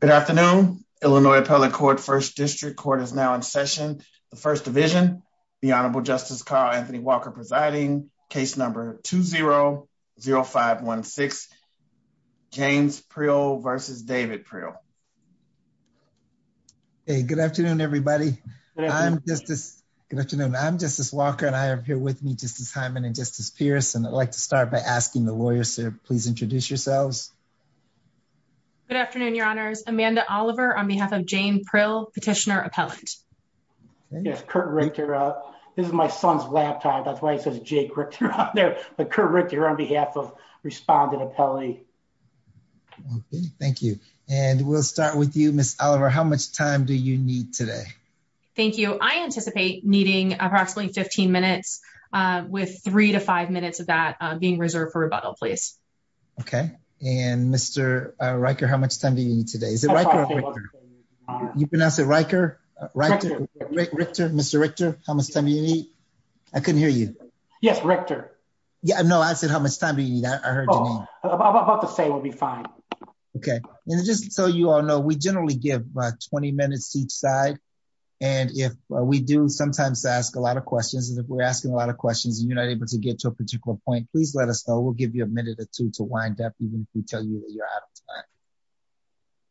Good afternoon. Illinois Appellate Court First District Court is now in session. The First Division, the Honorable Justice Carl Anthony Walker presiding, case number 2-0-0516, James Priel versus David Priel. Hey, good afternoon everybody. I'm Justice Walker and I am here with me, Justice Hyman and Justice Pierce, and I'd like to start by asking the lawyers to please Amanda Oliver on behalf of James Priel, Petitioner Appellant. Yes, Kurt Richter. This is my son's laptop. That's why it says Jay Richter on there, but Kurt Richter on behalf of Respondent Appellate. Okay, thank you. And we'll start with you, Ms. Oliver. How much time do you need today? Thank you. I anticipate needing approximately 15 minutes with 3-5 minutes of that being reserved for rebuttal, please. Okay. And Mr. Richter, how much time do you need today? Is it Richter or Richter? You pronounce it Richter? Richter. Mr. Richter, how much time do you need? I couldn't hear you. Yes, Richter. No, I said, how much time do you need? I heard your name. About the same will be fine. Okay. And just so you all know, we generally give 20 minutes to each side. And if we do sometimes ask a lot of questions, and if we're asking a lot of questions, and you're not able to get to a particular point, please let us know. We'll give you a minute or two to wind up, even if we tell you that you're out of time.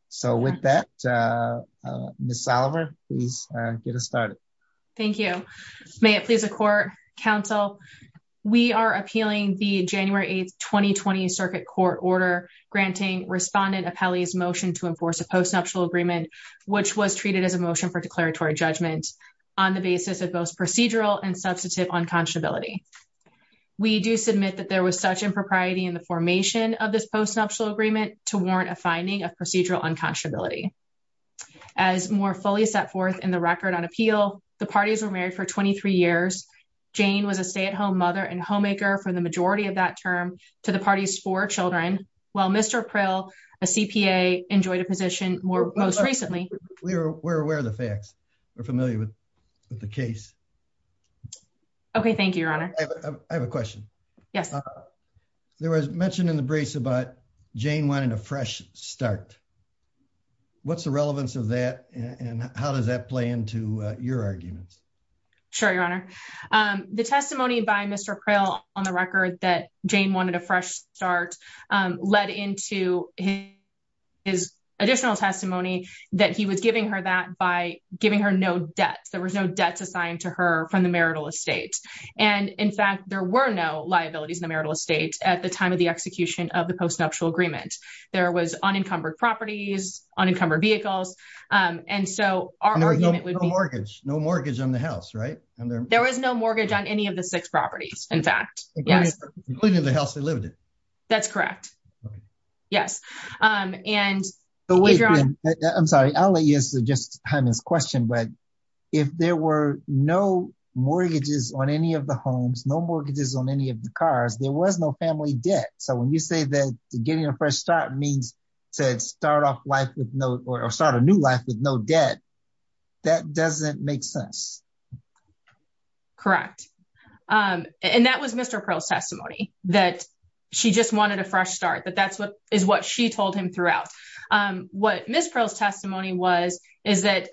So with that, Ms. Oliver, please get us started. Thank you. May it please the court, counsel, we are appealing the January 8th, 2020, circuit court order granting Respondent Appellee's motion to enforce a post-nuptial agreement, which was treated as a motion for declaratory judgment on the basis of both procedural and substantive unconscionability. We do submit that there was such impropriety in the formation of this post-nuptial agreement to warrant a finding of procedural unconscionability. As more fully set forth in the record on appeal, the parties were married for 23 years. Jane was a stay-at-home mother and homemaker for the majority of that term to the party's four children, while Mr. Prill, a CPA, enjoyed a position more recently. We're aware of the facts. We're familiar with the case. Okay. Thank you, Your Honor. I have a question. Yes. There was mention in the brace about Jane wanting a fresh start. What's the relevance of that and how does that play into your arguments? Sure, Your Honor. The testimony by Mr. Prill on the record that Jane wanted a fresh start led into his additional testimony that he was giving her that by giving her no debt. There were no debts assigned to her from the marital estate. In fact, there were no liabilities in the marital estate at the time of the execution of the post-nuptial agreement. There was unencumbered properties, unencumbered vehicles. No mortgage on the house, right? There was no mortgage on any of the six properties, in fact. That's correct. Yes. Wait, Ben. I'm sorry. I'll let you answer Justice Hyman's question. If there were no mortgages on any of the homes, no mortgages on any of the cars, there was no family debt. When you say that getting a fresh start means to start a new life with no debt, that doesn't make sense. Correct. That was Mr. Prill's testimony that she just wanted a fresh start, but that's what she told him throughout. What Ms. Prill's testimony was is that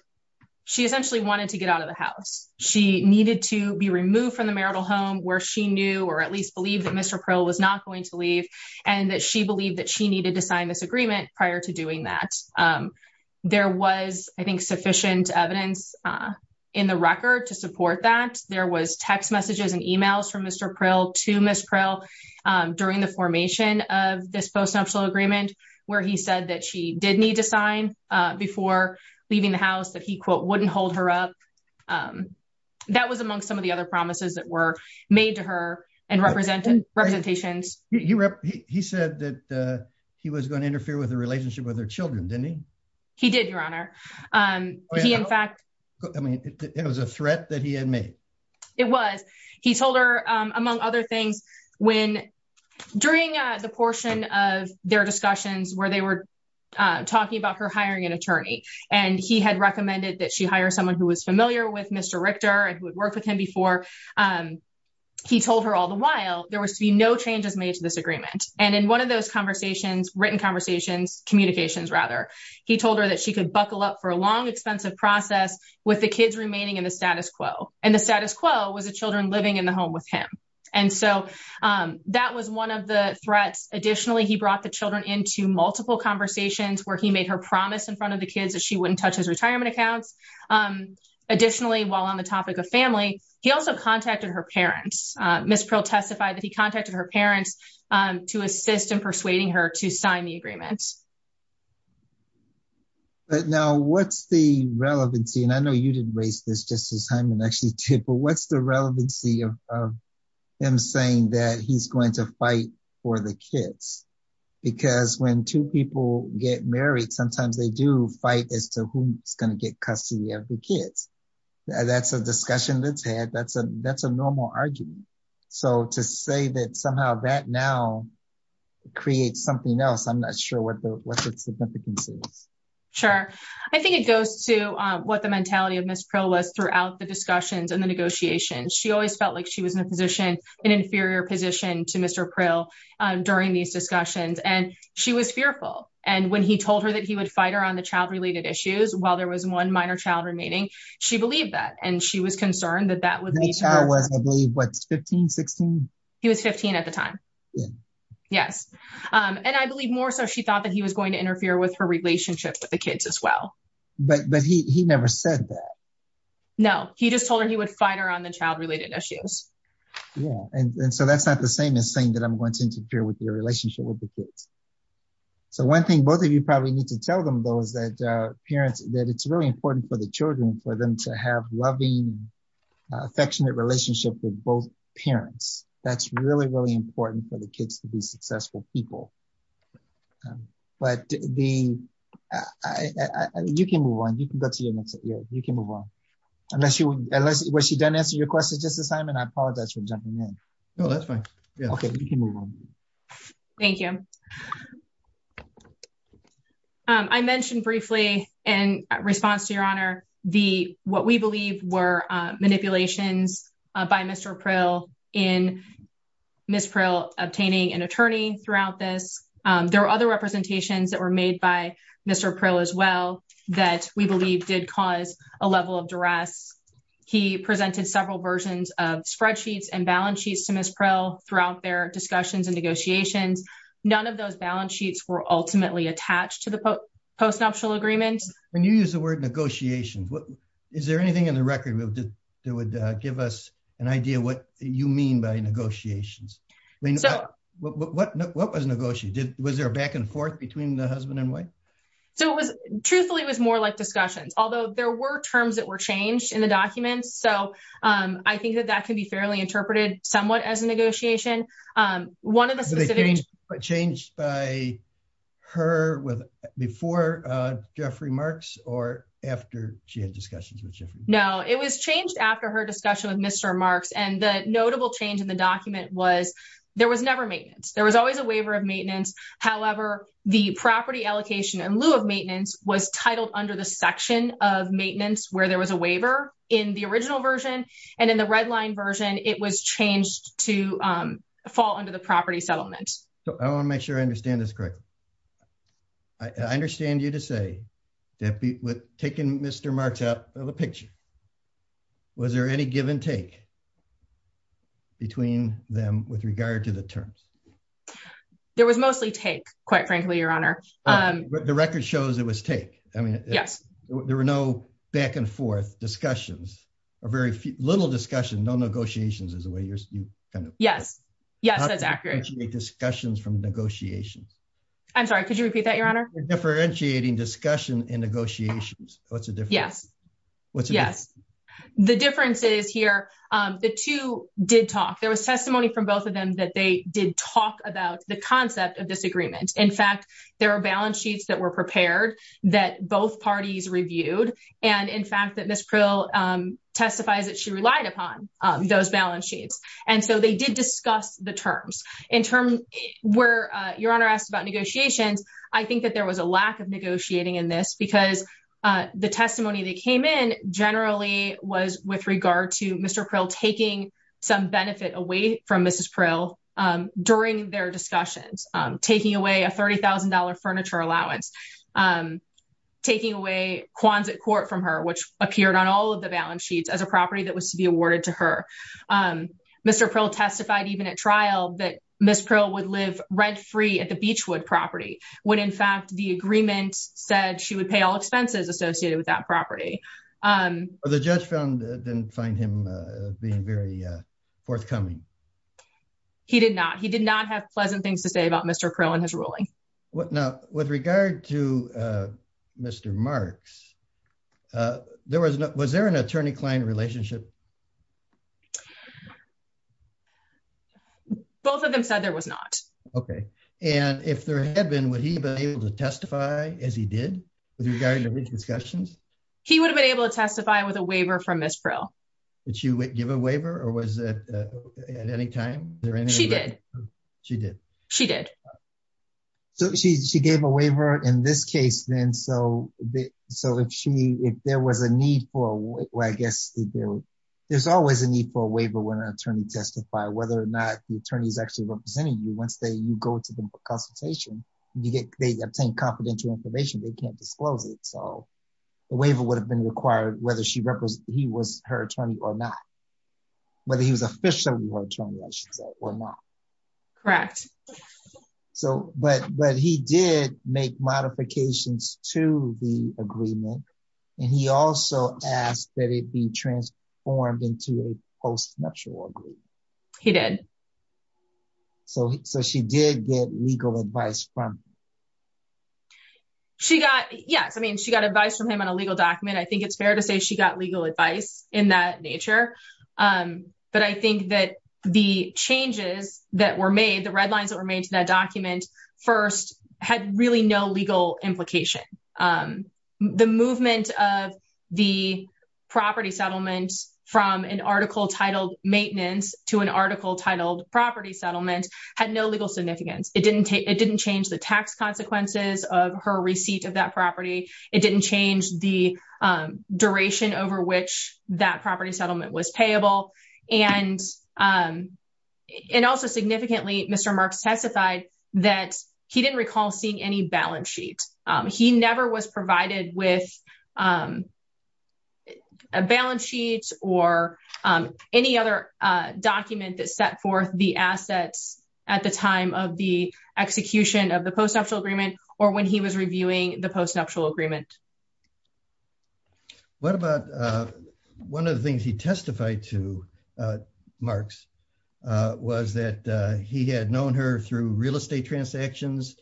she essentially wanted to get out of the house. She needed to be removed from the marital home where she knew or at least believed that Mr. Prill was not going to leave and that she believed that she needed to sign this agreement prior to doing that. There was, I think, sufficient evidence in the record to support that. There was text messages and emails from Mr. Prill to Ms. Prill during the formation of this post-nuptial agreement where he said that she did need to sign before leaving the house, that he, quote, wouldn't hold her up. That was among some of the other promises that were made to her and representations. He said that he was going to interfere with the relationship with her children, didn't he? He did, Your Honor. I mean, it was a threat that he had made. It was. He told her, among other things, when during the portion of their discussions where they were talking about her hiring an attorney and he had recommended that she hire someone who was familiar with Mr. Richter and who had worked with him before, he told her all the while there was to be no changes made to this agreement. In one of those written conversations, communications rather, he told her that she could buckle up for a long, expensive process with the kids remaining in the status quo and the status quo was the children living in the home with him. And so that was one of the threats. Additionally, he brought the children into multiple conversations where he made her promise in front of the kids that she wouldn't touch his retirement accounts. Additionally, while on the topic of family, he also contacted her parents. Ms. Prill testified that he contacted her parents to assist in persuading her to sign the agreement. But now, what's the relevancy? And I know you didn't raise this just as Hyman actually did, but what's the relevancy of him saying that he's going to fight for the kids? Because when two people get married, sometimes they do fight as to who's going to get custody of the kids. That's a discussion that's had. That's a normal argument. So to say that somehow that now creates something else, I'm not sure what the significance is. Sure. I think it goes to what the mentality of Ms. Prill was throughout the discussions and the negotiations. She always felt like she was in a position, an inferior position to Mr. Prill during these discussions. And she was fearful. And when he told her that he would fight her on the child-related issues while there was one minor child remaining, she believed that. And she was concerned that that would be... The child was, I believe, what's 15, 16? He was 15 at the time. Yes. And I believe more so she thought that he was going to interfere with her relationship with the kids as well. But he never said that. No. He just told her he would fight her on the child-related issues. Yeah. And so that's not the same as saying that I'm going to interfere with your relationship with the kids. So one thing both of you probably need to tell them though is that it's really important for the children, for them to have loving, affectionate relationship with both successful people. But you can move on. You can go to your next... Yeah, you can move on. Unless you... Was she done answering your questions just this time? And I apologize for jumping in. No, that's fine. Yeah. Okay. You can move on. Thank you. I mentioned briefly in response to your honor, what we believe were manipulations by Mr. Pryl in Ms. Pryl obtaining an attorney throughout this. There were other representations that were made by Mr. Pryl as well that we believe did cause a level of duress. He presented several versions of spreadsheets and balance sheets to Ms. Pryl throughout their discussions and negotiations. None of those balance sheets were ultimately attached to the postnuptial agreement. When you use the word negotiations, is there anything in the record that would give us an idea of what you mean by negotiations? I mean, what was negotiated? Was there a back and forth between the husband and wife? Truthfully, it was more like discussions, although there were terms that were changed in the documents. So I think that that can be fairly interpreted somewhat as a negotiation. One of the specific- Were they changed by her before Jeffrey Marks or after she had discussions with Jeffrey? No, it was changed after her discussion with Mr. Marks. And the notable change in the document was there was never maintenance. There was always a waiver of maintenance. However, the property allocation in lieu of maintenance was titled under the section of maintenance where there was a waiver in the original version. And in the red line version, it was changed to fall under the property settlement. So I want to make sure I understand this correctly. I understand you to say that taking Mr. Marks out of the picture, was there any give and take between them with regard to the terms? There was mostly take, quite frankly, Your Honor. The record shows it was take. I mean, there were no back and forth discussions, a very little discussion. No negotiations is the way you kind of- Yes. Yes, that's accurate. How do you differentiate discussions from negotiations? I'm sorry. Could you repeat that, Your Honor? Differentiating discussion and negotiations. What's the difference? Yes. What's the difference? Yes. The difference is here, the two did talk. There was testimony from both of them that they did talk about the concept of disagreement. In fact, there are balance sheets that were prepared that both parties reviewed. And in fact, that Ms. Prill testifies that she relied upon those balance sheets. And so, they did discuss the terms. In terms where Your Honor asked about negotiations, I think that there was a lack of negotiating in this because the testimony that came in generally was with regard to Mr. Prill taking some benefit away from Mrs. Prill during their discussions, taking away a $30,000 furniture allowance, taking away Kwanzaa court from her, which appeared on all of the balance sheets as a property that was to be awarded to her. Mr. Prill testified even at trial that Ms. Prill would live rent-free at the Beachwood property, when in fact, the agreement said she would pay all expenses associated with that property. The judge didn't find him being very forthcoming. He did not. He did not have pleasant things to say about Mr. Prill and his ruling. Now, with regard to Mr. Marks, was there an attorney-client relationship? Both of them said there was not. Okay. And if there had been, would he have been able to testify as he did with regard to these discussions? He would have been able to testify with a waiver from Ms. Prill. Did she give a waiver or was it at any time? She did. She did. She did. So she gave a waiver in this case then. So if there was a need for, I guess, there's always a need for a waiver when an attorney testifies, whether or not the attorney is actually representing you. Once you go to the consultation, they obtain confidential information. They can't disclose it. So the waiver would have been required whether he was her attorney or not. Whether he was officially her attorney, I should say, or not. Correct. So, but he did make modifications to the agreement. And he also asked that it be transformed into a post-nuptial agreement. He did. So she did get legal advice from him. She got, yes. I mean, she got advice from him on a legal document. I think it's fair to say she got legal advice in that nature. But I think that the changes that were made, the red lines that were made to that document first had really no legal implication. The movement of the property settlement from an article titled maintenance to an article titled property settlement had no legal significance. It didn't change the tax consequences of her receipt of that property. It didn't change the duration over which that property settlement was payable. And also significantly, Mr. Marks testified that he didn't recall seeing any balance sheet. He never was provided with a balance sheet or any other document that set forth the assets at the time of the execution of the post-nuptial agreement or when he was reviewing the post-nuptial agreement. What about one of the things he testified to, Marks, was that he had known her through real estate transactions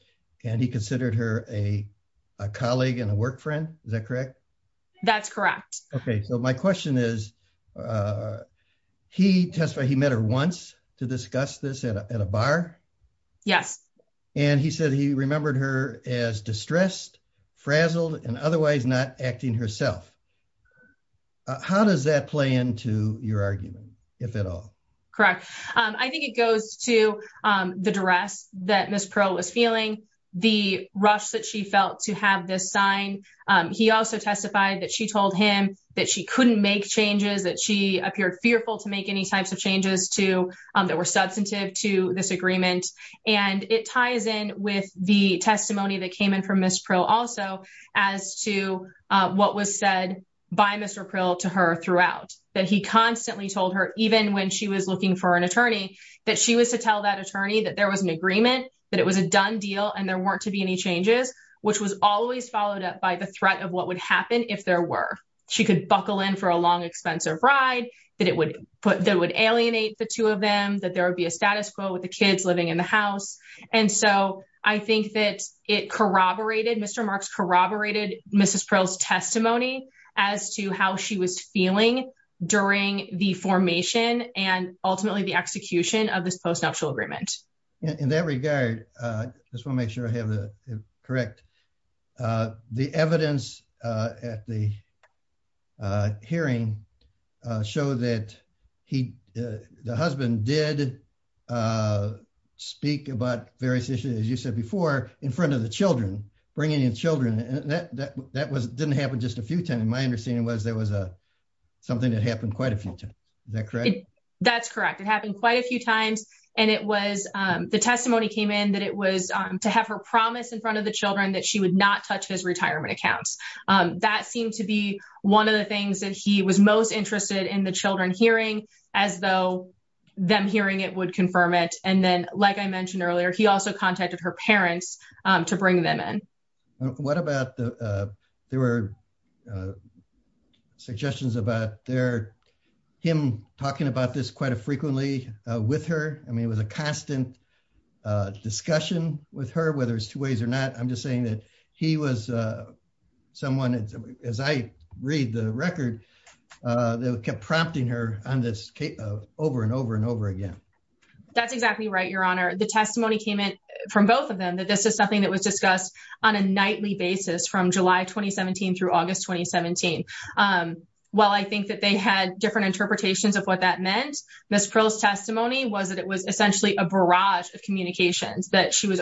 and he considered her a colleague and a work friend. Is that correct? That's correct. Okay. So my question is, he testified he met her once to discuss this at a bar. Yes. And he said he remembered her as distressed, frazzled, and otherwise not acting herself. How does that play into your argument, if at all? Correct. I think it goes to the duress that Ms. Pearl was feeling, the rush that she felt to have this sign. He also testified that she told him that she couldn't make changes, that she appeared fearful to make any types of changes that were substantive to this agreement. And it ties in with the testimony that came in from Ms. Pearl also as to what was said by Mr. Pearl to her throughout. That he constantly told her, even when she was looking for an attorney, that she was to tell that attorney that there was an agreement, that it was a done deal and there weren't to be any changes, which was always followed up by the threat of what would happen if there were. She could buckle in for a long, expensive ride, that it would alienate the two of them, that there would be a status quo with the kids living in the house. And so, I think that it corroborated, Mr. Marks corroborated Ms. Pearl's testimony as to how she was feeling during the formation and ultimately the execution of this post-nuptial agreement. In that regard, I just want to make sure I have that correct. The evidence at the hearing showed that the husband did speak about various issues, as you said before, in front of the children, bringing in children. That didn't happen just a few times. My understanding was there was something that happened quite a few times. Is that correct? That's correct. It happened quite a few times. And the testimony came in that it was to have her promise in front of the children that she would not touch his retirement accounts. That seemed to be one of the things that he was most interested in the children hearing, as though them hearing it would confirm it. And then, like I mentioned earlier, he also contacted her parents to bring them in. What about the... There were suggestions about him talking about this quite frequently with her. I mean, it was a constant discussion with her, whether it's two ways or not. I'm just saying that he was someone, as I read the record, that kept prompting her on this over and over and over again. That's exactly right, Your Honor. The testimony came in from both of them that this is something that was discussed on a nightly basis from July 2017 through August 2017. While I think that they had different interpretations of what that meant, Ms. Prill's testimony was that it was essentially a barrage of communications, that she was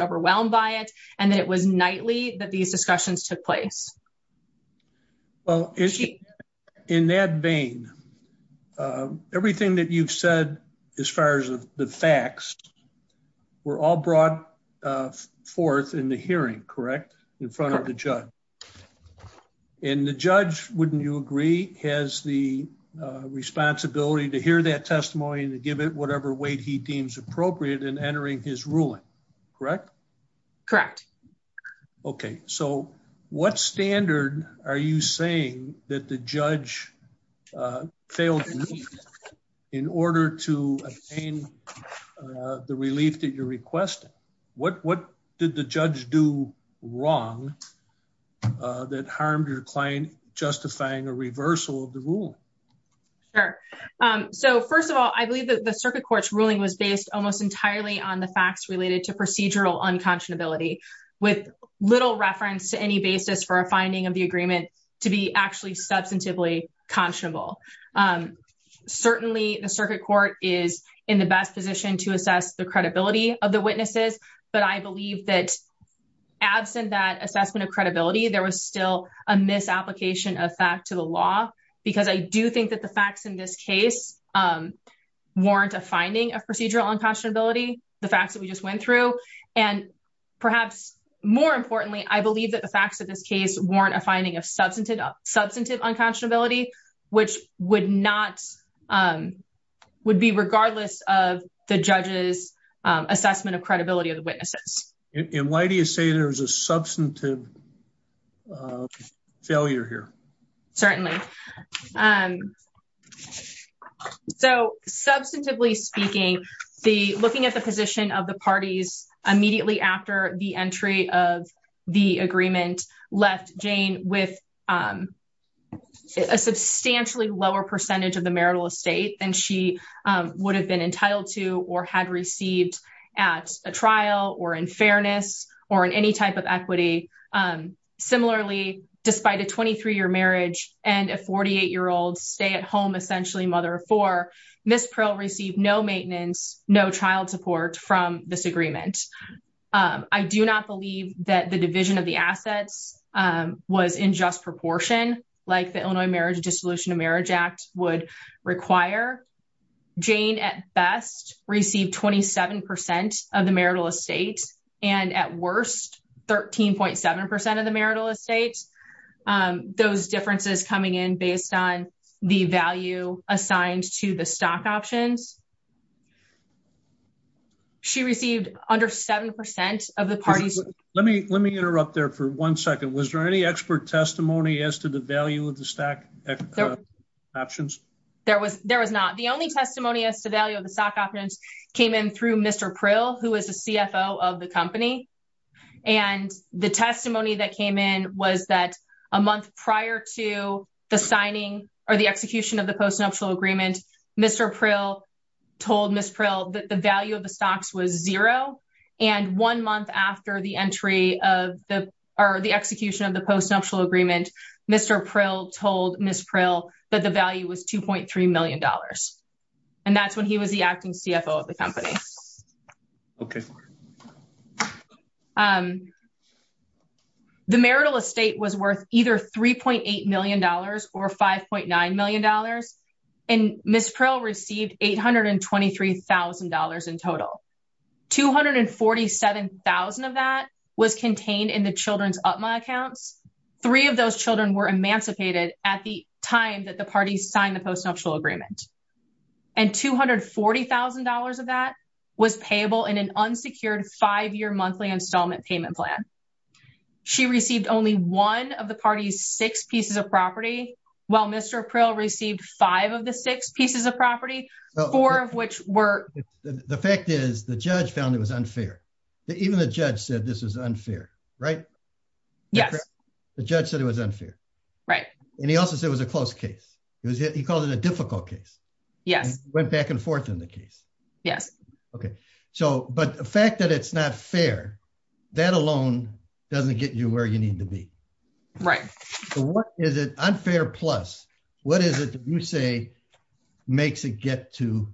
these discussions took place. Well, in that vein, everything that you've said, as far as the facts, were all brought forth in the hearing, correct? In front of the judge. And the judge, wouldn't you agree, has the responsibility to hear that testimony and to give it whatever weight he deems appropriate in entering his ruling, correct? Correct. Okay. So what standard are you saying that the judge failed to meet in order to obtain the relief that you're requesting? What did the judge do wrong that harmed your client, justifying a reversal of the ruling? Sure. So first of all, I believe that the circuit court's ruling was based almost entirely on the facts related to procedural unconscionability, with little reference to any basis for a finding of the agreement to be actually substantively conscionable. Certainly, the circuit court is in the best position to assess the credibility of the witnesses, but I believe that absent that assessment of credibility, there was still a misapplication of fact to the law, because I do think that the facts in this case warrant a finding of procedural unconscionability, the facts that we just went through. And perhaps more importantly, I believe that the facts of this case warrant a finding of substantive unconscionability, which would be regardless of the judge's assessment of credibility of the witnesses. And why do you say there's a substantive failure here? Certainly. Substantively speaking, looking at the position of the parties immediately after the entry of the agreement left Jane with a substantially lower percentage of the marital estate than she would have been entitled to or had received at a trial or in fairness or in any type of equity. Similarly, despite a 23-year marriage and a 48-year-old stay-at-home essentially mother for Ms. Prill received no maintenance, no child support from this agreement. I do not believe that the division of the assets was in just proportion like the Illinois Marriage Dissolution of Marriage Act would require. Jane at best received 27% of the marital estate and at worst 13.7% of the marital estate. And those differences coming in based on the value assigned to the stock options. She received under 7% of the parties. Let me interrupt there for one second. Was there any expert testimony as to the value of the stock options? There was not. The only testimony as to value of the stock options came in through Mr. Prill, who is the CFO of the company. And the testimony that came in was that a month prior to the signing or the execution of the postnuptial agreement, Mr. Prill told Ms. Prill that the value of the stocks was zero. And one month after the entry of the or the execution of the postnuptial agreement, Mr. Prill told Ms. Prill that the value was $2.3 million. And that's when he was the acting CFO of the company. Okay. The marital estate was worth either $3.8 million or $5.9 million. And Ms. Prill received $823,000 in total. $247,000 of that was contained in the children's UPMA accounts. Three of those children were emancipated at the time that the parties signed the postnuptial agreement. And $240,000 of that was payable in an unsecured five-year monthly installment payment plan. She received only one of the party's six pieces of property, while Mr. Prill received five of the six pieces of property, four of which were... The fact is the judge found it was unfair. Even the judge said this was unfair, right? Yes. The judge said it was unfair. Right. And he also said it was a close case. He called it a difficult case. Yes. Went back and forth in the case. Yes. Okay. So, but the fact that it's not fair, that alone doesn't get you where you need to be. Right. So what is it, unfair plus, what is it that you say makes it get to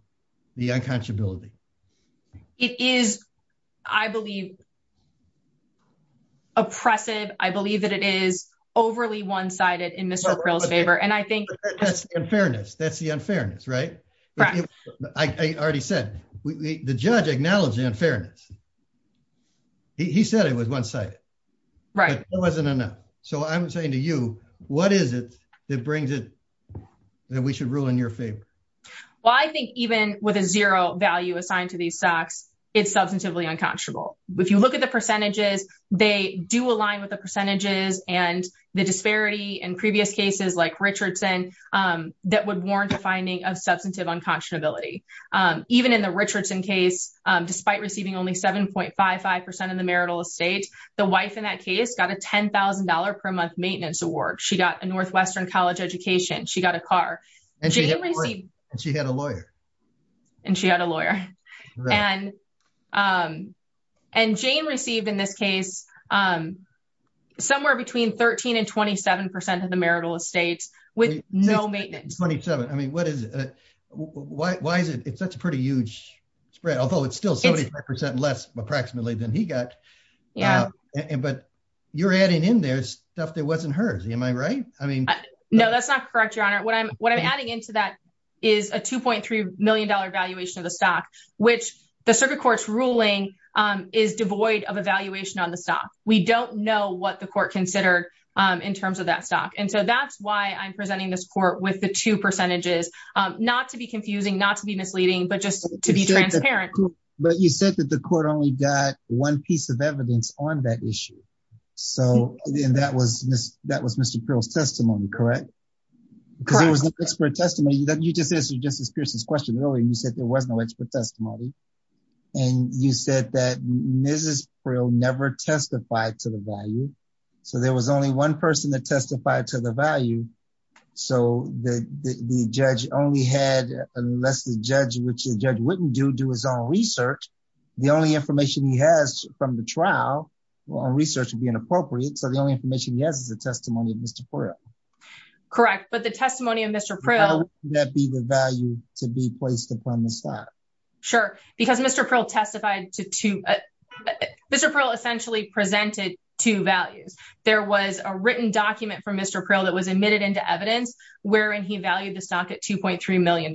the unconscionability? It is, I believe, oppressive. I believe that it is overly one-sided in Mr. Prill's favor. That's the unfairness. That's the unfairness, right? Correct. I already said, the judge acknowledged the unfairness. He said it was one-sided. Right. But that wasn't enough. So I'm saying to you, what is it that brings it that we should rule in your favor? Well, I think even with a zero value assigned to these stocks, it's substantively unconscionable. If you look at the percentages, they do align with the percentages and the disparity in previous cases, like Richardson, that would warrant a finding of substantive unconscionability. Even in the Richardson case, despite receiving only 7.55% of the marital estate, the wife in that case got a $10,000 per month maintenance award. She got a Northwestern college education. She got a car. And she had a lawyer. And she had a lawyer. And Jane received, in this case, somewhere between 13% and 27% of the marital estate with no maintenance. 27%. I mean, what is it? Why is it? That's a pretty huge spread. Although it's still 75% less, approximately, than he got. But you're adding in there stuff that wasn't hers. Am I right? I mean... No, that's not correct, Your Honor. What I'm adding into that is a $2.3 million valuation of the stock. The circuit court's ruling is devoid of a valuation on the stock. We don't know what the court considered in terms of that stock. And so that's why I'm presenting this court with the two percentages. Not to be confusing, not to be misleading, but just to be transparent. But you said that the court only got one piece of evidence on that issue. So that was Mr. Peral's testimony, correct? Correct. Because it was an expert testimony. You just answered Justice Pierce's question earlier. You said there was no expert testimony. And you said that Mrs. Peral never testified to the value. So there was only one person that testified to the value. So the judge only had... Unless the judge, which the judge wouldn't do, do his own research, the only information he has from the trial or research would be inappropriate. So the only information he has is the testimony of Mr. Peral. Correct. But the testimony of Mr. Peral... Sure. Because Mr. Peral testified to two... Mr. Peral essentially presented two values. There was a written document from Mr. Peral that was admitted into evidence wherein he valued the stock at $2.3 million.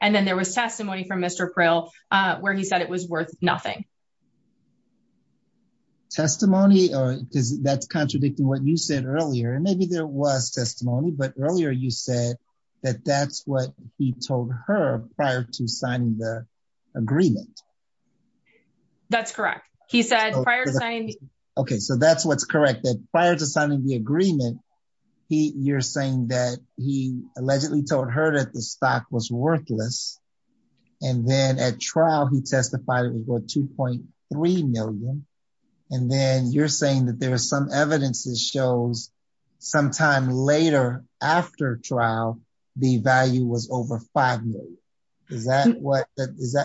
And then there was testimony from Mr. Peral where he said it was worth nothing. Testimony, that's contradicting what you said earlier. And maybe there was testimony, but earlier you said that that's what he told her prior to signing the agreement. That's correct. He said prior to signing... Okay, so that's what's correct. That prior to signing the agreement, you're saying that he allegedly told her that the stock was worthless. And then at trial, he testified it was worth $2.3 million. And then you're saying that there was some evidence that shows sometime later after trial, the value was over $5 million. Is that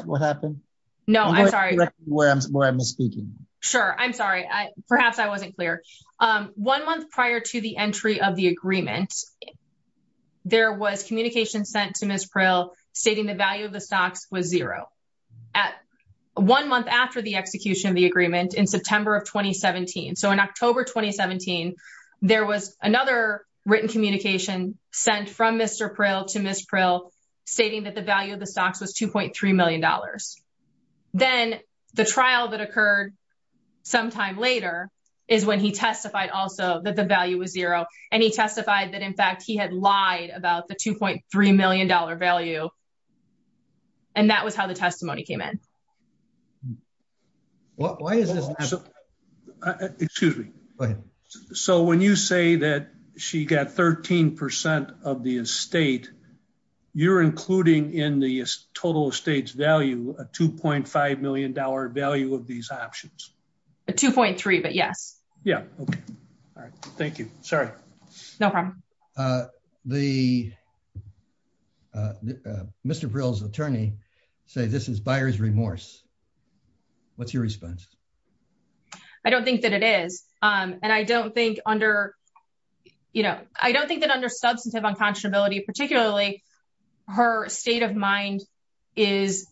what happened? No, I'm sorry. I'm going to correct where I'm speaking. Sure, I'm sorry. Perhaps I wasn't clear. One month prior to the entry of the agreement, there was communication sent to Ms. Peral stating the value of the stocks was zero. One month after the execution of the agreement in September of 2017. So in October 2017, there was another written communication sent from Mr. Peral to Ms. Peral stating that the value of the stocks was $2.3 million. Then the trial that occurred sometime later is when he testified also that the value was zero. And he testified that, in fact, he had lied about the $2.3 million value. And that was how the testimony came in. Well, why is this? Excuse me. So when you say that she got 13% of the estate, you're including in the total estate's value, a $2.5 million value of these options. A 2.3, but yes. Yeah. All right. Thank you. Sorry. No problem. The Mr. Peral's attorney say this is buyer's remorse. What's your response? I don't think that it is. And I don't think under, you know, I don't think that under substantive unconscionability, particularly her state of mind is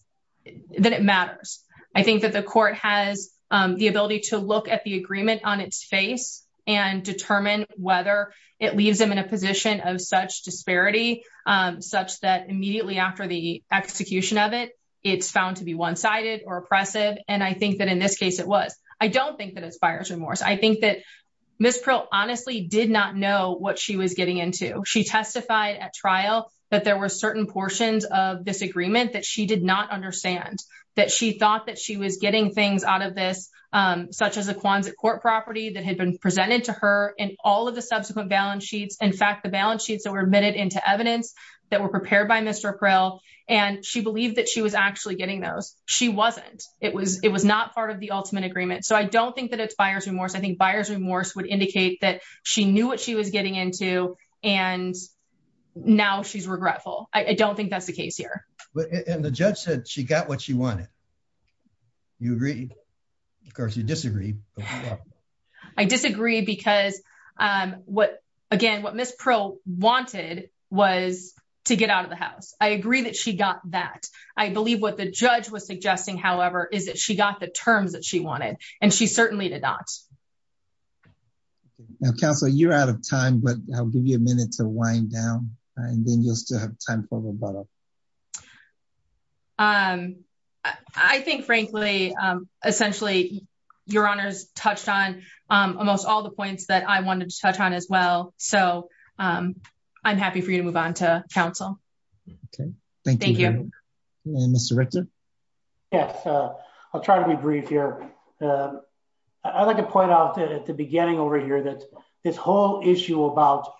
that it matters. I think that the court has the ability to look at the agreement on its face and determine whether it leaves them in a position of such disparity, such that immediately after the execution of it, it's found to be one-sided or oppressive. And I think that in this case, it was. I don't think that it's buyer's remorse. I think that Ms. Peral honestly did not know what she was getting into. She testified at trial that there were certain portions of this agreement that she did not understand, that she thought that she was getting things out of this, such as a Quonset court property that had been presented to her and all of the subsequent balance sheets. In fact, the balance sheets that were admitted into evidence that were prepared by Mr. Peral, and she believed that she was actually getting those. She wasn't, it was, it was not part of the ultimate agreement. So I don't think that it's buyer's remorse. I think buyer's remorse would indicate that she knew what she was getting into. And now she's regretful. I don't think that's the case here. But, and the judge said she got what she wanted. You agree? Of course you disagree. I disagree because what, again, what Ms. Peral wanted was to get out of the house. I agree that she got that. I believe what the judge was suggesting, however, is that she got the terms that she wanted, and she certainly did not. Now, Counselor, you're out of time, but I'll give you a minute to wind down, and then you'll still have time for rebuttal. Um, I think, frankly, um, essentially, your honors touched on, um, almost all the points that I wanted to touch on as well. So, um, I'm happy for you to move on to counsel. Okay. Thank you. Mr. Richter? Yes, uh, I'll try to be brief here. I'd like to point out that at the beginning over here, that this whole issue about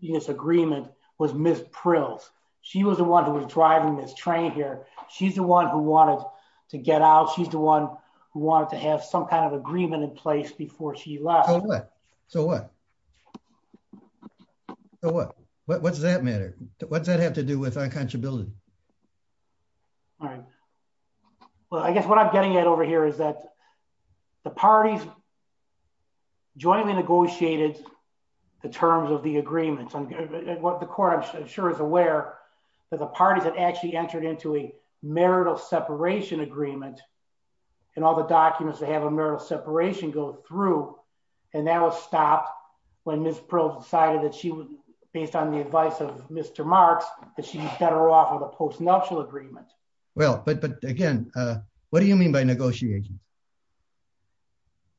this agreement was Ms. Prill's. She was the one who was driving this train here. She's the one who wanted to get out. She's the one who wanted to have some kind of agreement in place before she left. So what? So what? So what? What's that matter? What's that have to do with unconscionability? All right. Well, I guess what I'm getting at over here is that the parties jointly negotiated the terms of the agreement. What the court I'm sure is aware that the parties that actually entered into a marital separation agreement and all the documents that have a marital separation go through. And that was stopped when Ms. Prill decided that she would, based on the advice of Mr. Marks, that she was better off with a postnuptial agreement. Well, but, but again, uh, what do you mean by negotiating?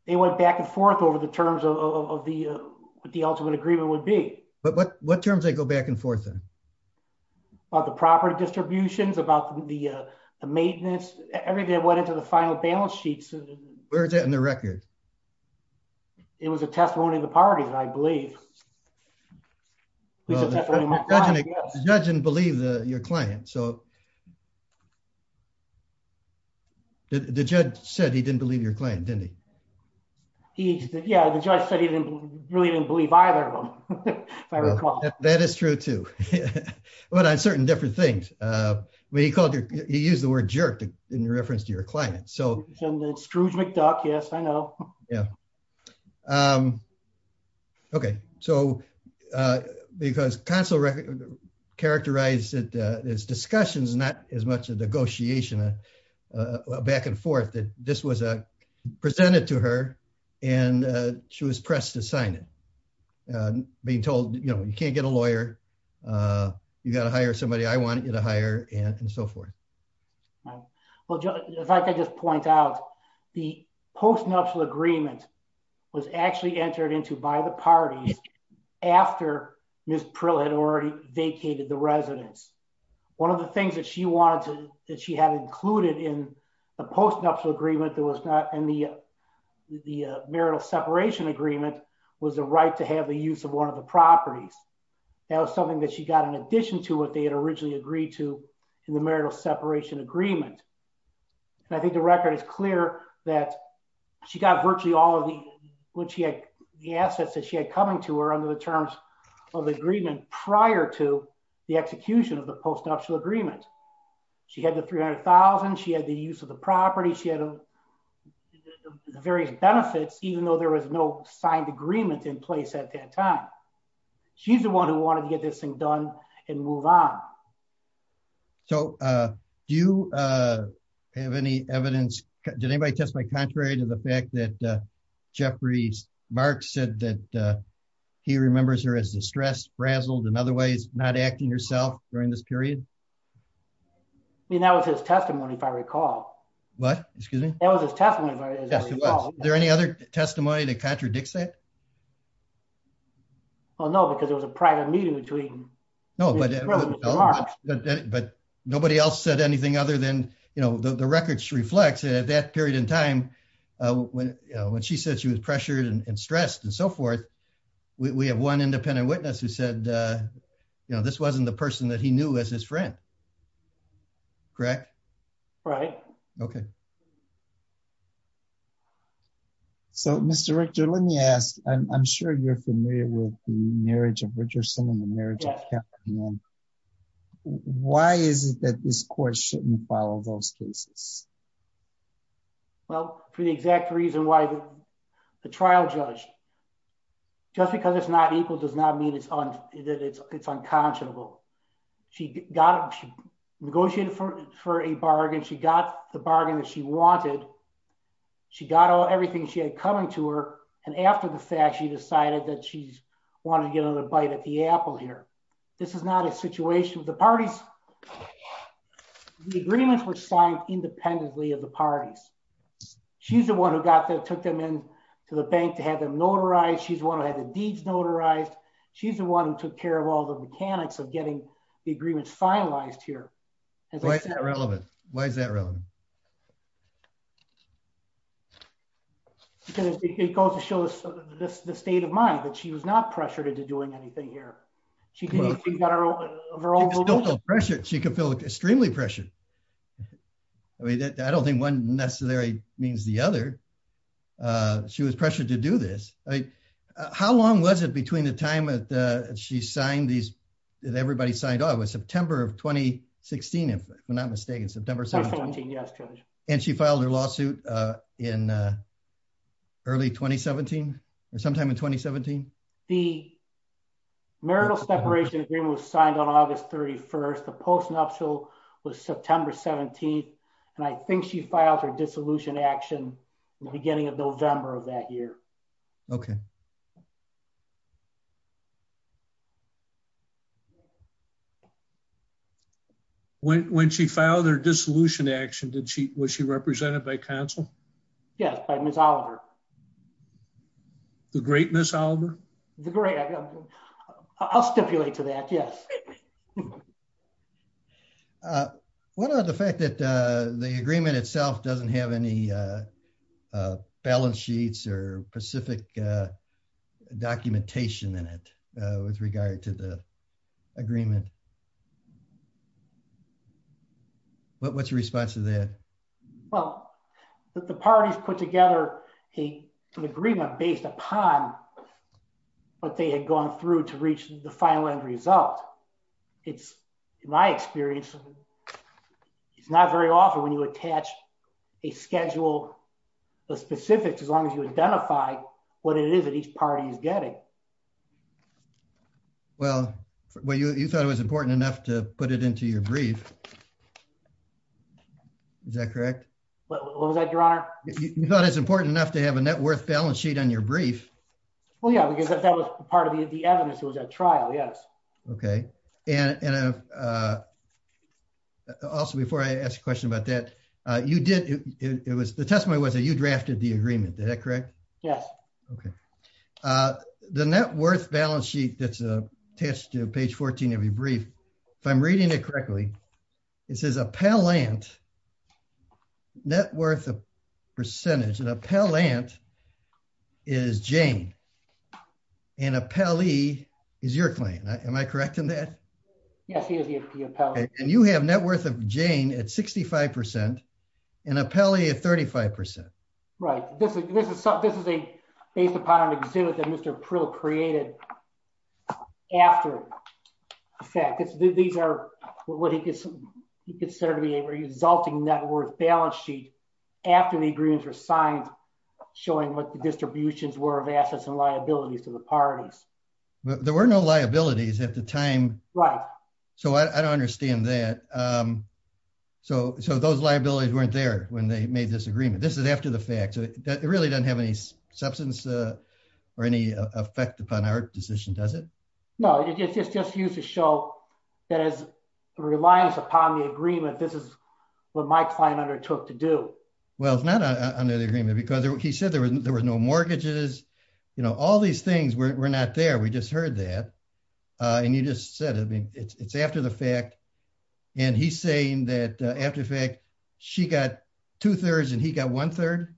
They went back and forth over the terms of the, uh, the ultimate agreement would be. But what, what terms they go back and forth then? About the property distributions, about the, uh, the maintenance, everything that went into the final balance sheets. Where's that in the record? It was a testimony of the parties, I believe. The judge didn't believe the, your client. So the judge said he didn't believe your client, didn't he? He, yeah, the judge said he didn't really didn't believe either of them. That is true too, but on certain different things. Uh, when he called you, he used the word jerk in reference to your client. So Scrooge McDuck. Yes, I know. Yeah. Um, okay. So, uh, because consular characterized it, uh, as discussions, not as much a negotiation, uh, uh, back and forth that this was, uh, presented to her and, uh, she was pressed to sign it. Uh, being told, you know, you can't get a lawyer. Uh, you gotta hire somebody. I want you to hire and so forth. Well, if I could just point out the post-nuptial agreement was actually entered into by the parties after Ms. Prill had already vacated the residence. One of the things that she wanted to, that she had included in the post-nuptial agreement and the, uh, the, uh, marital separation agreement was the right to have the use of one of the properties. That was something that she got in addition to what they had originally agreed to in the marital separation agreement. And I think the record is clear that she got virtually all of the, what she had, the assets that she had coming to her under the terms of the agreement prior to the execution of the post-nuptial agreement. She had the 300,000. She had the use of the property. She had the various benefits, even though there was no signed agreement in place at that time. She's the one who wanted to get this thing done and move on. So, uh, do you, uh, have any evidence? Did anybody test my contrary to the fact that, uh, Jeffrey Marx said that, uh, he remembers her as distressed, frazzled in other ways, not acting herself during this period. I mean, that was his testimony, if I recall. What? Excuse me. That was his testimony. Is there any other testimony that contradicts that? Well, no, because it was a private meeting between. No, but nobody else said anything other than, you know, the records reflects at that period in time, uh, when, uh, when she said she was pressured and stressed and so forth, we have one independent witness who said, uh, you know, this wasn't the person that he knew as his friend, correct? Right. Okay. So, Mr. Richter, let me ask, I'm sure you're familiar with the marriage of Richardson and the marriage of Captain Young. Why is it that this court shouldn't follow those cases? Well, for the exact reason why the trial judge, just because it's not equal does not mean it's unconscionable. She got, she negotiated for, for a bargain. She got the bargain that she wanted. She got all, everything she had coming to her. And after the fact, she decided that she wanted to get another bite at the apple here. This is not a situation with the parties. The agreements were signed independently of the parties. She's the one who got there, took them in to the bank to have them notarized. She's the one who had the deeds notarized. She's the one who took care of all the mechanics of getting the agreements finalized here. Why is that relevant? Why is that relevant? Because it goes to show us the state of mind, that she was not pressured into doing anything here. She didn't, she got her own, of her own will. She could still feel pressure. She could feel extremely pressured. I mean, I don't think one necessarily means the other. She was pressured to do this. How long was it between the time that she signed these, that everybody signed? Oh, it was September of 2016, if I'm not mistaken. September 17th. Yes, Judge. And she filed her lawsuit in early 2017 or sometime in 2017? The marital separation agreement was signed on August 31st. The postnuptial was September 17th. And I think she filed her dissolution action in the beginning of November of that year. Okay. When she filed her dissolution action, did she, was she represented by council? Yes, by Ms. Oliver. The great Ms. Oliver? The great, I'll stipulate to that, yes. What about the fact that the agreement itself doesn't have any balance sheets or specific documentation in it with regard to the agreement? What's your response to that? Well, the parties put together an agreement based upon what they had gone through to reach the final end result. It's, in my experience, it's not very often when you attach a schedule of specifics, as long as you identify what it is that each party is getting. Well, you thought it was important enough to put it into your brief. Is that correct? What was that, Your Honor? You thought it's important enough to have a net worth balance sheet on your brief. Well, yeah, because that was part of the evidence. It was at trial, yes. Okay, and also, before I ask a question about that, you did, it was, the testimony was that you drafted the agreement, is that correct? Yes. Okay, the net worth balance sheet that's attached to page 14 of your brief, if I'm reading it correctly, it says appellant, net worth of percentage, an appellant is Jane, and appellee is your client, am I correct in that? Yes, he is the appellant. And you have net worth of Jane at 65%, and appellee at 35%. Right, this is a, based upon an exhibit that Mr. Prill created after, in fact, these are what he considered to be a resulting net worth balance sheet after the agreements were signed, showing what the distributions were of assets and liabilities to the parties. There were no liabilities at the time. Right. So I don't understand that. So those liabilities weren't there when they made this agreement. This is after the fact. It really doesn't have any substance or any effect upon our decision, does it? No, it's just used to show that as reliance upon the agreement, this is what my client undertook to do. Well, it's not under the agreement because he said there was no mortgages, you know, all these things were not there, we just heard that. And you just said, I mean, it's after the fact. And he's saying that after the fact, she got two thirds and he got one third.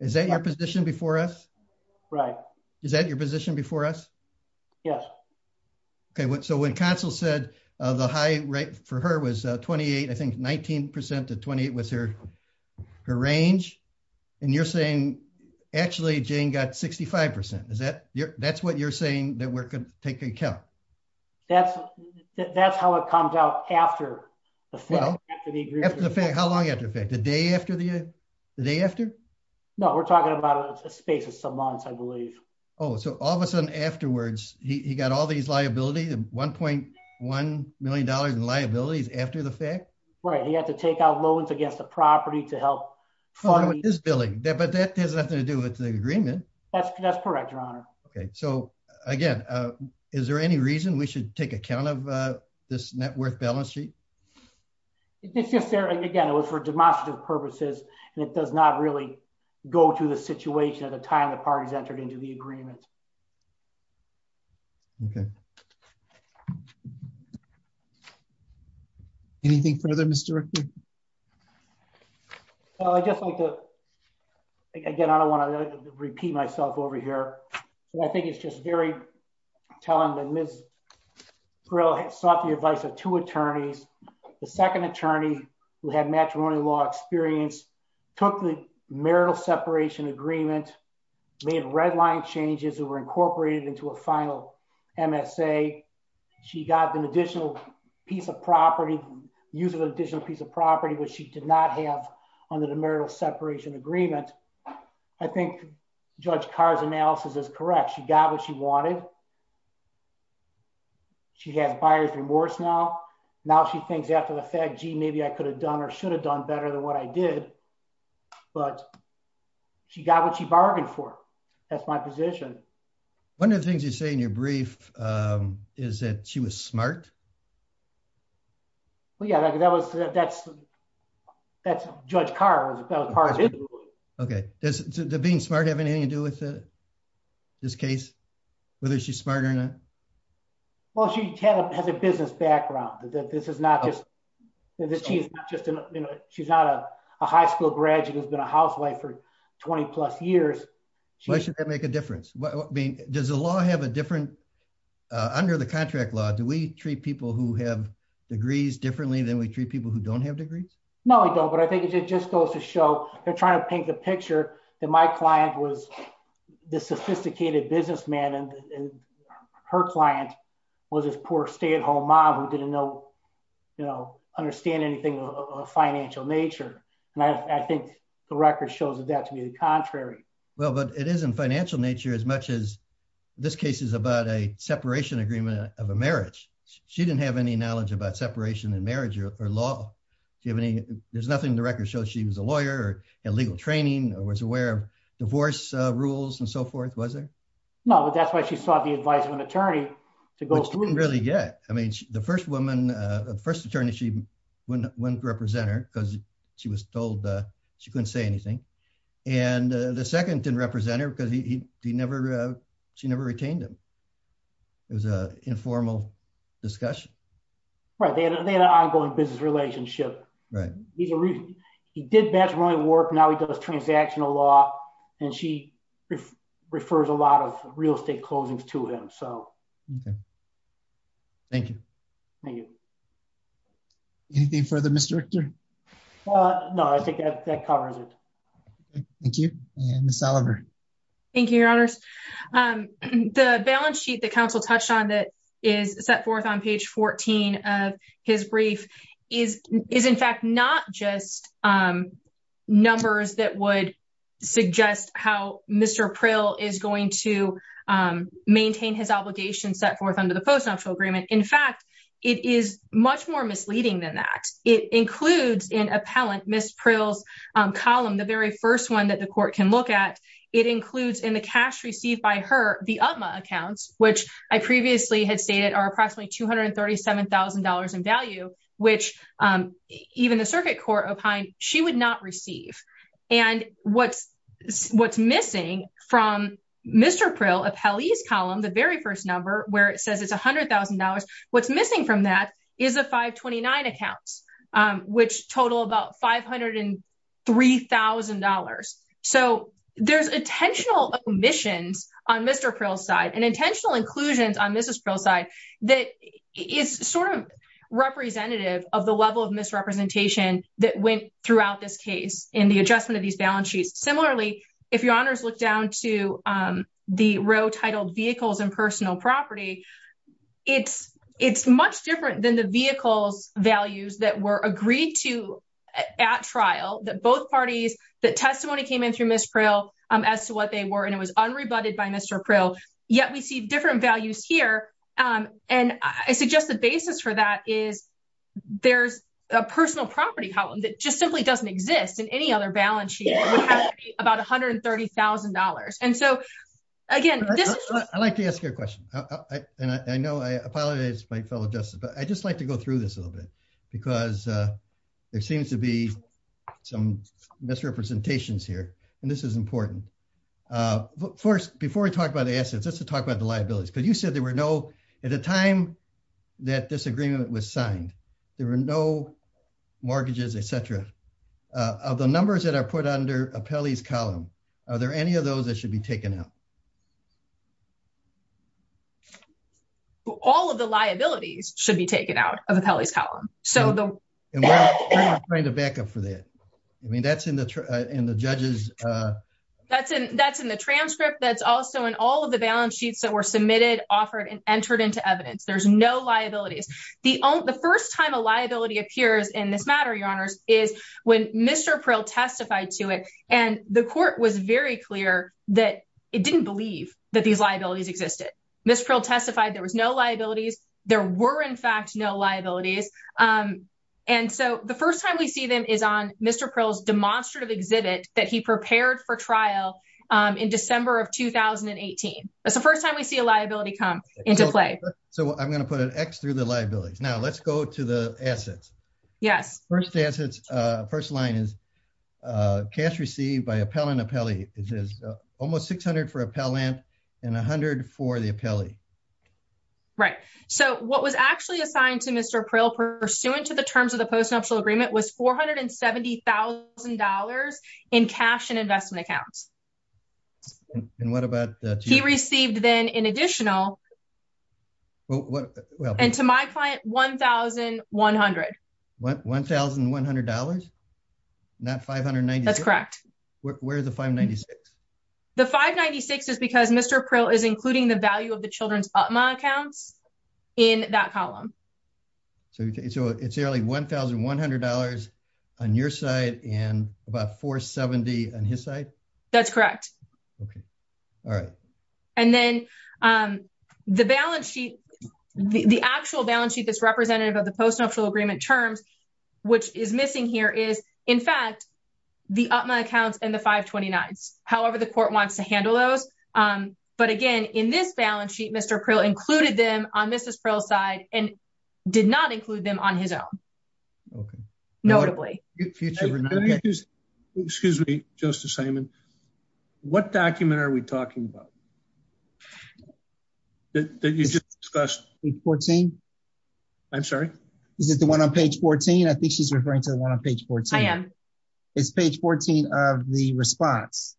Is that your position before us? Right. Is that your position before us? Yes. Okay. So when Council said the high rate for her was 28, I think 19% to 28 was her range. And you're saying, actually, Jane got 65%. That's what you're saying that we're going to take into account. That's how it comes out after the fact. Well, after the fact, how long after the fact? The day after? No, we're talking about a space of some months, I believe. Oh, so all of a sudden afterwards, he got all these liabilities, $1.1 million in liabilities after the fact? Right. He had to take out loans against the property to help fund this billing. But that has nothing to do with the agreement. That's correct, Your Honor. Okay. So again, is there any reason we should take account of this net worth balance sheet? Again, it was for demonstrative purposes, and it does not really go to the situation at the time the parties entered into the agreement. Okay. Anything further, Mr. Rickey? Well, I just like to, again, I don't want to repeat myself over here. I think it's just very telling that Ms. Grill sought the advice of two attorneys. The second attorney who had matrimonial law experience took the marital separation agreement made redline changes that were incorporated into a final MSA. She got an additional piece of property, used an additional piece of property, which she did not have under the marital separation agreement. I think Judge Carr's analysis is correct. She got what she wanted. She has buyer's remorse now. Now she thinks after the fact, gee, maybe I could have done or should have done better than what I did. But she got what she bargained for. That's my position. One of the things you say in your brief is that she was smart. Well, yeah, that's Judge Carr. Okay. Does being smart have anything to do with this case, whether she's smart or not? Well, she has a business background. This is not just, she's not a high school graduate, has been a housewife for 20 plus years. Why should that make a difference? Does the law have a different, under the contract law, do we treat people who have degrees differently than we treat people who don't have degrees? No, we don't. But I think it just goes to show they're trying to paint the picture that my client was the sophisticated businessman and her client was this poor stay-at-home mom who didn't understand anything of a financial nature. And I think the record shows that to be the contrary. Well, but it isn't financial nature as much as this case is about a separation agreement of a marriage. She didn't have any knowledge about separation in marriage or law. There's nothing in the record shows she was a lawyer or had legal training or was aware of divorce rules and so forth, was there? No, but that's why she sought the advice of an attorney to go through. Which she didn't really get. I mean, the first woman, the first attorney, she wouldn't represent her because she was told she couldn't say anything. And the second didn't represent her because she never retained him. It was an informal discussion. Right, they had an ongoing business relationship. He did bachelorette work, now he does transactional law and she refers a lot of real estate closings to him, so. Thank you. Thank you. Anything further, Mr. Richter? No, I think that covers it. Thank you. And Ms. Oliver. Thank you, your honors. The balance sheet that counsel touched on that is set forth on page 14 of his brief is in fact not just numbers that would suggest how Mr. Prill is going to maintain his obligation set forth under the post-nuptial agreement. In fact, it is much more misleading than that. It includes in appellant Ms. Prill's column, the very first one that the court can look at, it includes in the cash received by her, the UTMA accounts, which I previously had stated are approximately $237,000 in value. Which even the circuit court opined, she would not receive. And what's missing from Mr. Prill, appellee's column, the very first number where it says it's $100,000, what's missing from that is a 529 accounts, which total about $503,000. So there's intentional omissions on Mr. Prill's side and intentional inclusions on Ms. Prill's side that is sort of representative of the level of misrepresentation that went throughout this case in the adjustment of these balance sheets. Similarly, if your honors look down to the row titled vehicles and personal property, it's much different than the vehicles values that were agreed to at trial, that both parties, that testimony came in through Ms. Prill as to what they were and it was unrebutted by Mr. Prill. Yet we see different values here and I suggest the basis for that is there's a personal property column that just simply doesn't exist in any other balance sheet would have to be about $130,000. And so again, this is- I'd like to ask you a question and I know I apologize to my fellow justice, but I just like to go through this a little bit because there seems to be some misrepresentations here and this is important. First, before we talk about the assets, let's talk about the liabilities because you said there were no, at the time that this agreement was signed, there were no mortgages, et cetera. Of the numbers that are put under Apelli's column, are there any of those that should be taken out? All of the liabilities should be taken out of Apelli's column. So the- And we're not trying to back up for that. I mean, that's in the judge's- That's in the transcript, that's also in all of the balance sheets that were submitted, offered and entered into evidence. There's no liabilities. The first time a liability appears in this matter, your honors, is when Mr. Prill testified to it and the court was very clear that it didn't believe that these liabilities existed. Ms. Prill testified there was no liabilities, there were in fact no liabilities. And so the first time we see them is on Mr. Prill's demonstrative exhibit that he prepared for trial in December of 2018. That's the first time we see a liability come into play. So I'm going to put an X through the liabilities. Now let's go to the assets. Yes. First assets, first line is, cash received by Appellant Apelli, it says almost 600 for Appellant and 100 for the Apelli. Right. So what was actually assigned to Mr. Prill pursuant to the terms of the post-nuptial agreement was $470,000 in cash and investment accounts. And what about- He received then in additional, and to my client, $1,100. $1,100? Not $596? That's correct. Where's the $596,000? The $596,000 is because Mr. Prill is including the value of the children's UPMA accounts in that column. So it's nearly $1,100 on your side and about $470,000 on his side? That's correct. Okay. All right. And then the balance sheet, the actual balance sheet that's representative of the post-nuptial agreement terms, which is missing here is, in fact, the UPMA accounts and the 529s. However, the court wants to handle those. But again, in this balance sheet, Mr. Prill included them on Mrs. Prill's side and did not include them on his own. Okay. Notably. Excuse me, Justice Simon. What document are we talking about? The one that you just discussed. Page 14? I'm sorry? Is it the one on page 14? I think she's referring to the one on page 14. I am. It's page 14 of the response.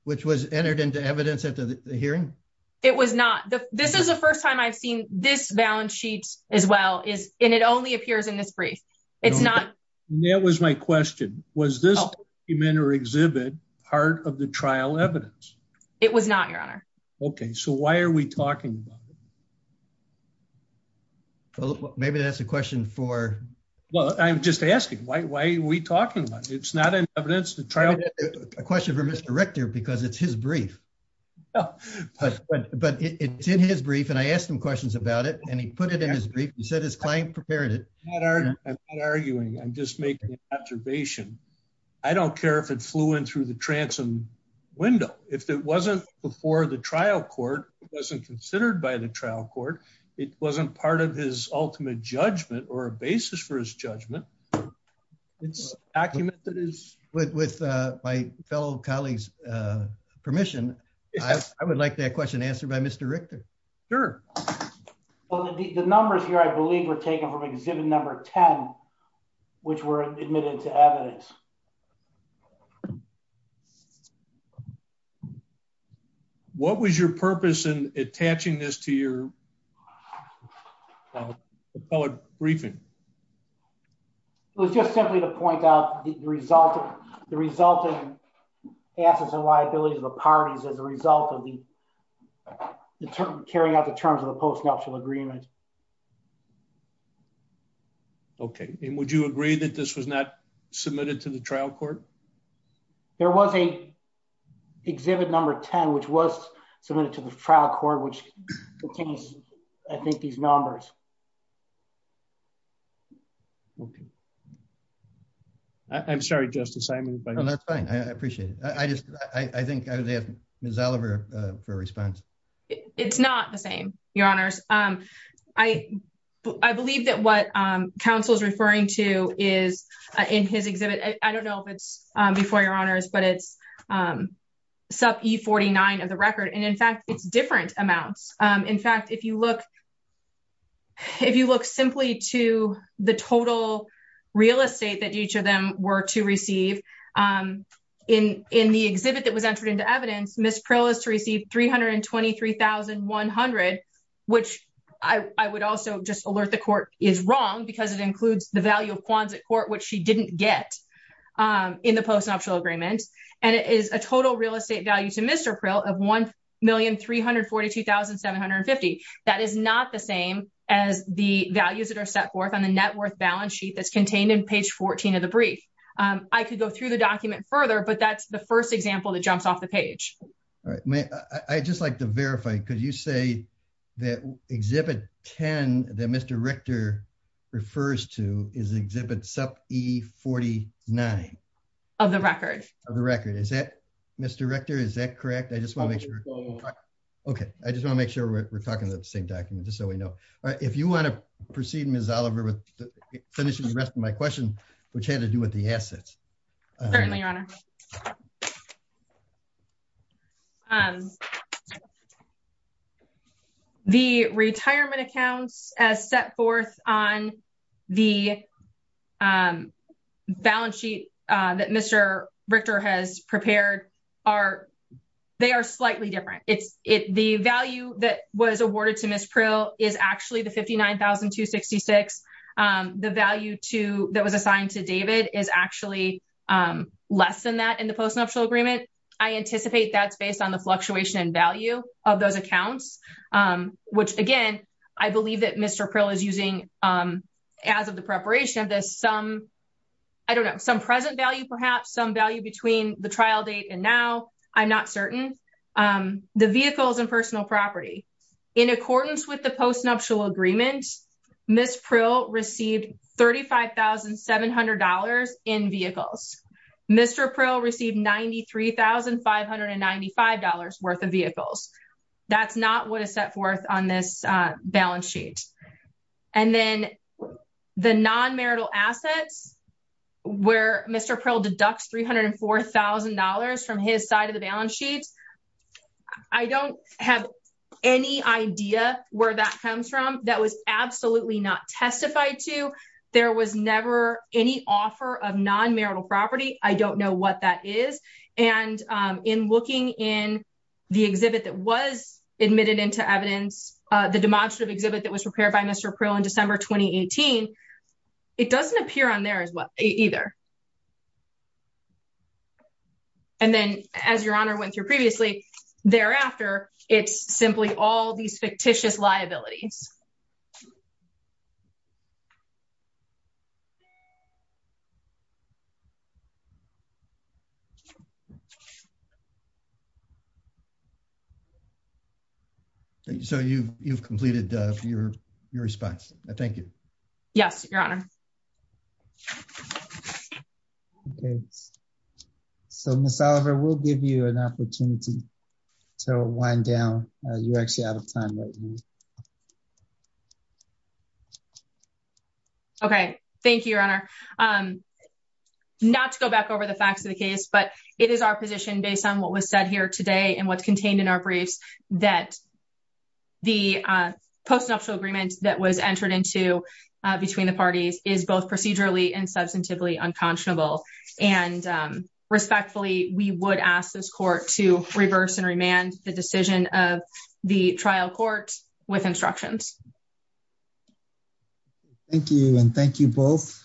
Which was entered into evidence at the hearing? It was not. This is the first time I've seen this balance sheet as well. And it only appears in this brief. It's not. That was my question. Was this document or exhibit part of the trial evidence? It was not, Your Honor. Okay. So why are we talking about it? Maybe that's a question for... Well, I'm just asking, why are we talking about it? It's not in evidence. A question for Mr. Richter because it's his brief. But it's in his brief and I asked him questions about it and he put it in his brief. He said his client prepared it. I'm not arguing. I'm just making an observation. I don't care if it flew in through the transom window. It wasn't before the trial court. It wasn't considered by the trial court. It wasn't part of his ultimate judgment or a basis for his judgment. It's a document that is... With my fellow colleagues permission, I would like that question answered by Mr. Richter. Sure. Well, the numbers here, I believe were taken from exhibit number 10, which were admitted to evidence. So what was your purpose in attaching this to your appellate briefing? It was just simply to point out the resulting assets and liabilities of the parties as a result of the carrying out the terms of the post-nuptial agreement. Okay. And would you agree that this was not submitted to the trial court? There was a exhibit number 10, which was submitted to the trial court, which contains, I think, these numbers. Okay. I'm sorry, Justice Simon. That's fine. I appreciate it. I think I would ask Ms. Oliver for a response. It's not the same, your honors. I believe that what counsel is referring to is in his exhibit. I don't know if it's before your honors, but it's sub E49 of the record. And in fact, it's different amounts. In fact, if you look simply to the total real estate that each of them were to receive, in the exhibit that was entered into evidence, Ms. Prill is to receive $323,100, which I would also just alert the court is wrong because it includes the value of in the post-nuptial agreement. And it is a total real estate value to Mr. Prill of $1,342,750. That is not the same as the values that are set forth on the net worth balance sheet that's contained in page 14 of the brief. I could go through the document further, but that's the first example that jumps off the page. All right. May I just like to verify, could you say that exhibit 10 that Mr. Richter refers to is exhibit sub E49? Of the record. Of the record. Is that Mr. Richter? Is that correct? I just want to make sure. Okay. I just want to make sure we're talking about the same document just so we know. All right. If you want to proceed Ms. Oliver with finishing the rest of my question, which had to do with the assets. Certainly your honor. Okay. The retirement accounts as set forth on the balance sheet that Mr. Richter has prepared are, they are slightly different. It's it, the value that was awarded to Ms. Prill is actually the $59,266. The value to that was assigned to David is actually less than that in the post-nuptial agreement. I anticipate that's based on the fluctuation in value of those accounts, which again, I believe that Mr. Prill is using as of the preparation of this, some, I don't know, some present value, perhaps some value between the trial date and now I'm not certain. The vehicles and personal property in accordance with the post-nuptial agreement, Ms. Prill received $35,700 in vehicles. Mr. Prill received $93,595 worth of vehicles. That's not what is set forth on this balance sheet. And then the non-marital assets where Mr. Prill deducts $304,000 from his side of the testified to, there was never any offer of non-marital property. I don't know what that is. And in looking in the exhibit that was admitted into evidence, the demonstrative exhibit that was prepared by Mr. Prill in December, 2018, it doesn't appear on there as well either. And then as Your Honor went through previously, thereafter, it's simply all these fictitious liabilities. So you've, you've completed your, your response. I thank you. Yes, Your Honor. Okay. So Ms. Oliver, we'll give you an opportunity to wind down. You're actually out of time right now. Okay. Thank you, Your Honor. Not to go back over the facts of the case, but it is our position based on what was said here today and what's contained in our briefs that the postnuptial agreement that was entered into between the parties is both procedurally and substantively unconscionable. And respectfully, we would ask this court to reverse and remand the decision of the trial court with instructions. Thank you. And thank you both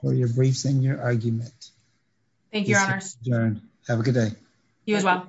for your briefs and your argument. Thank you, Your Honor. Have a good day. You as well.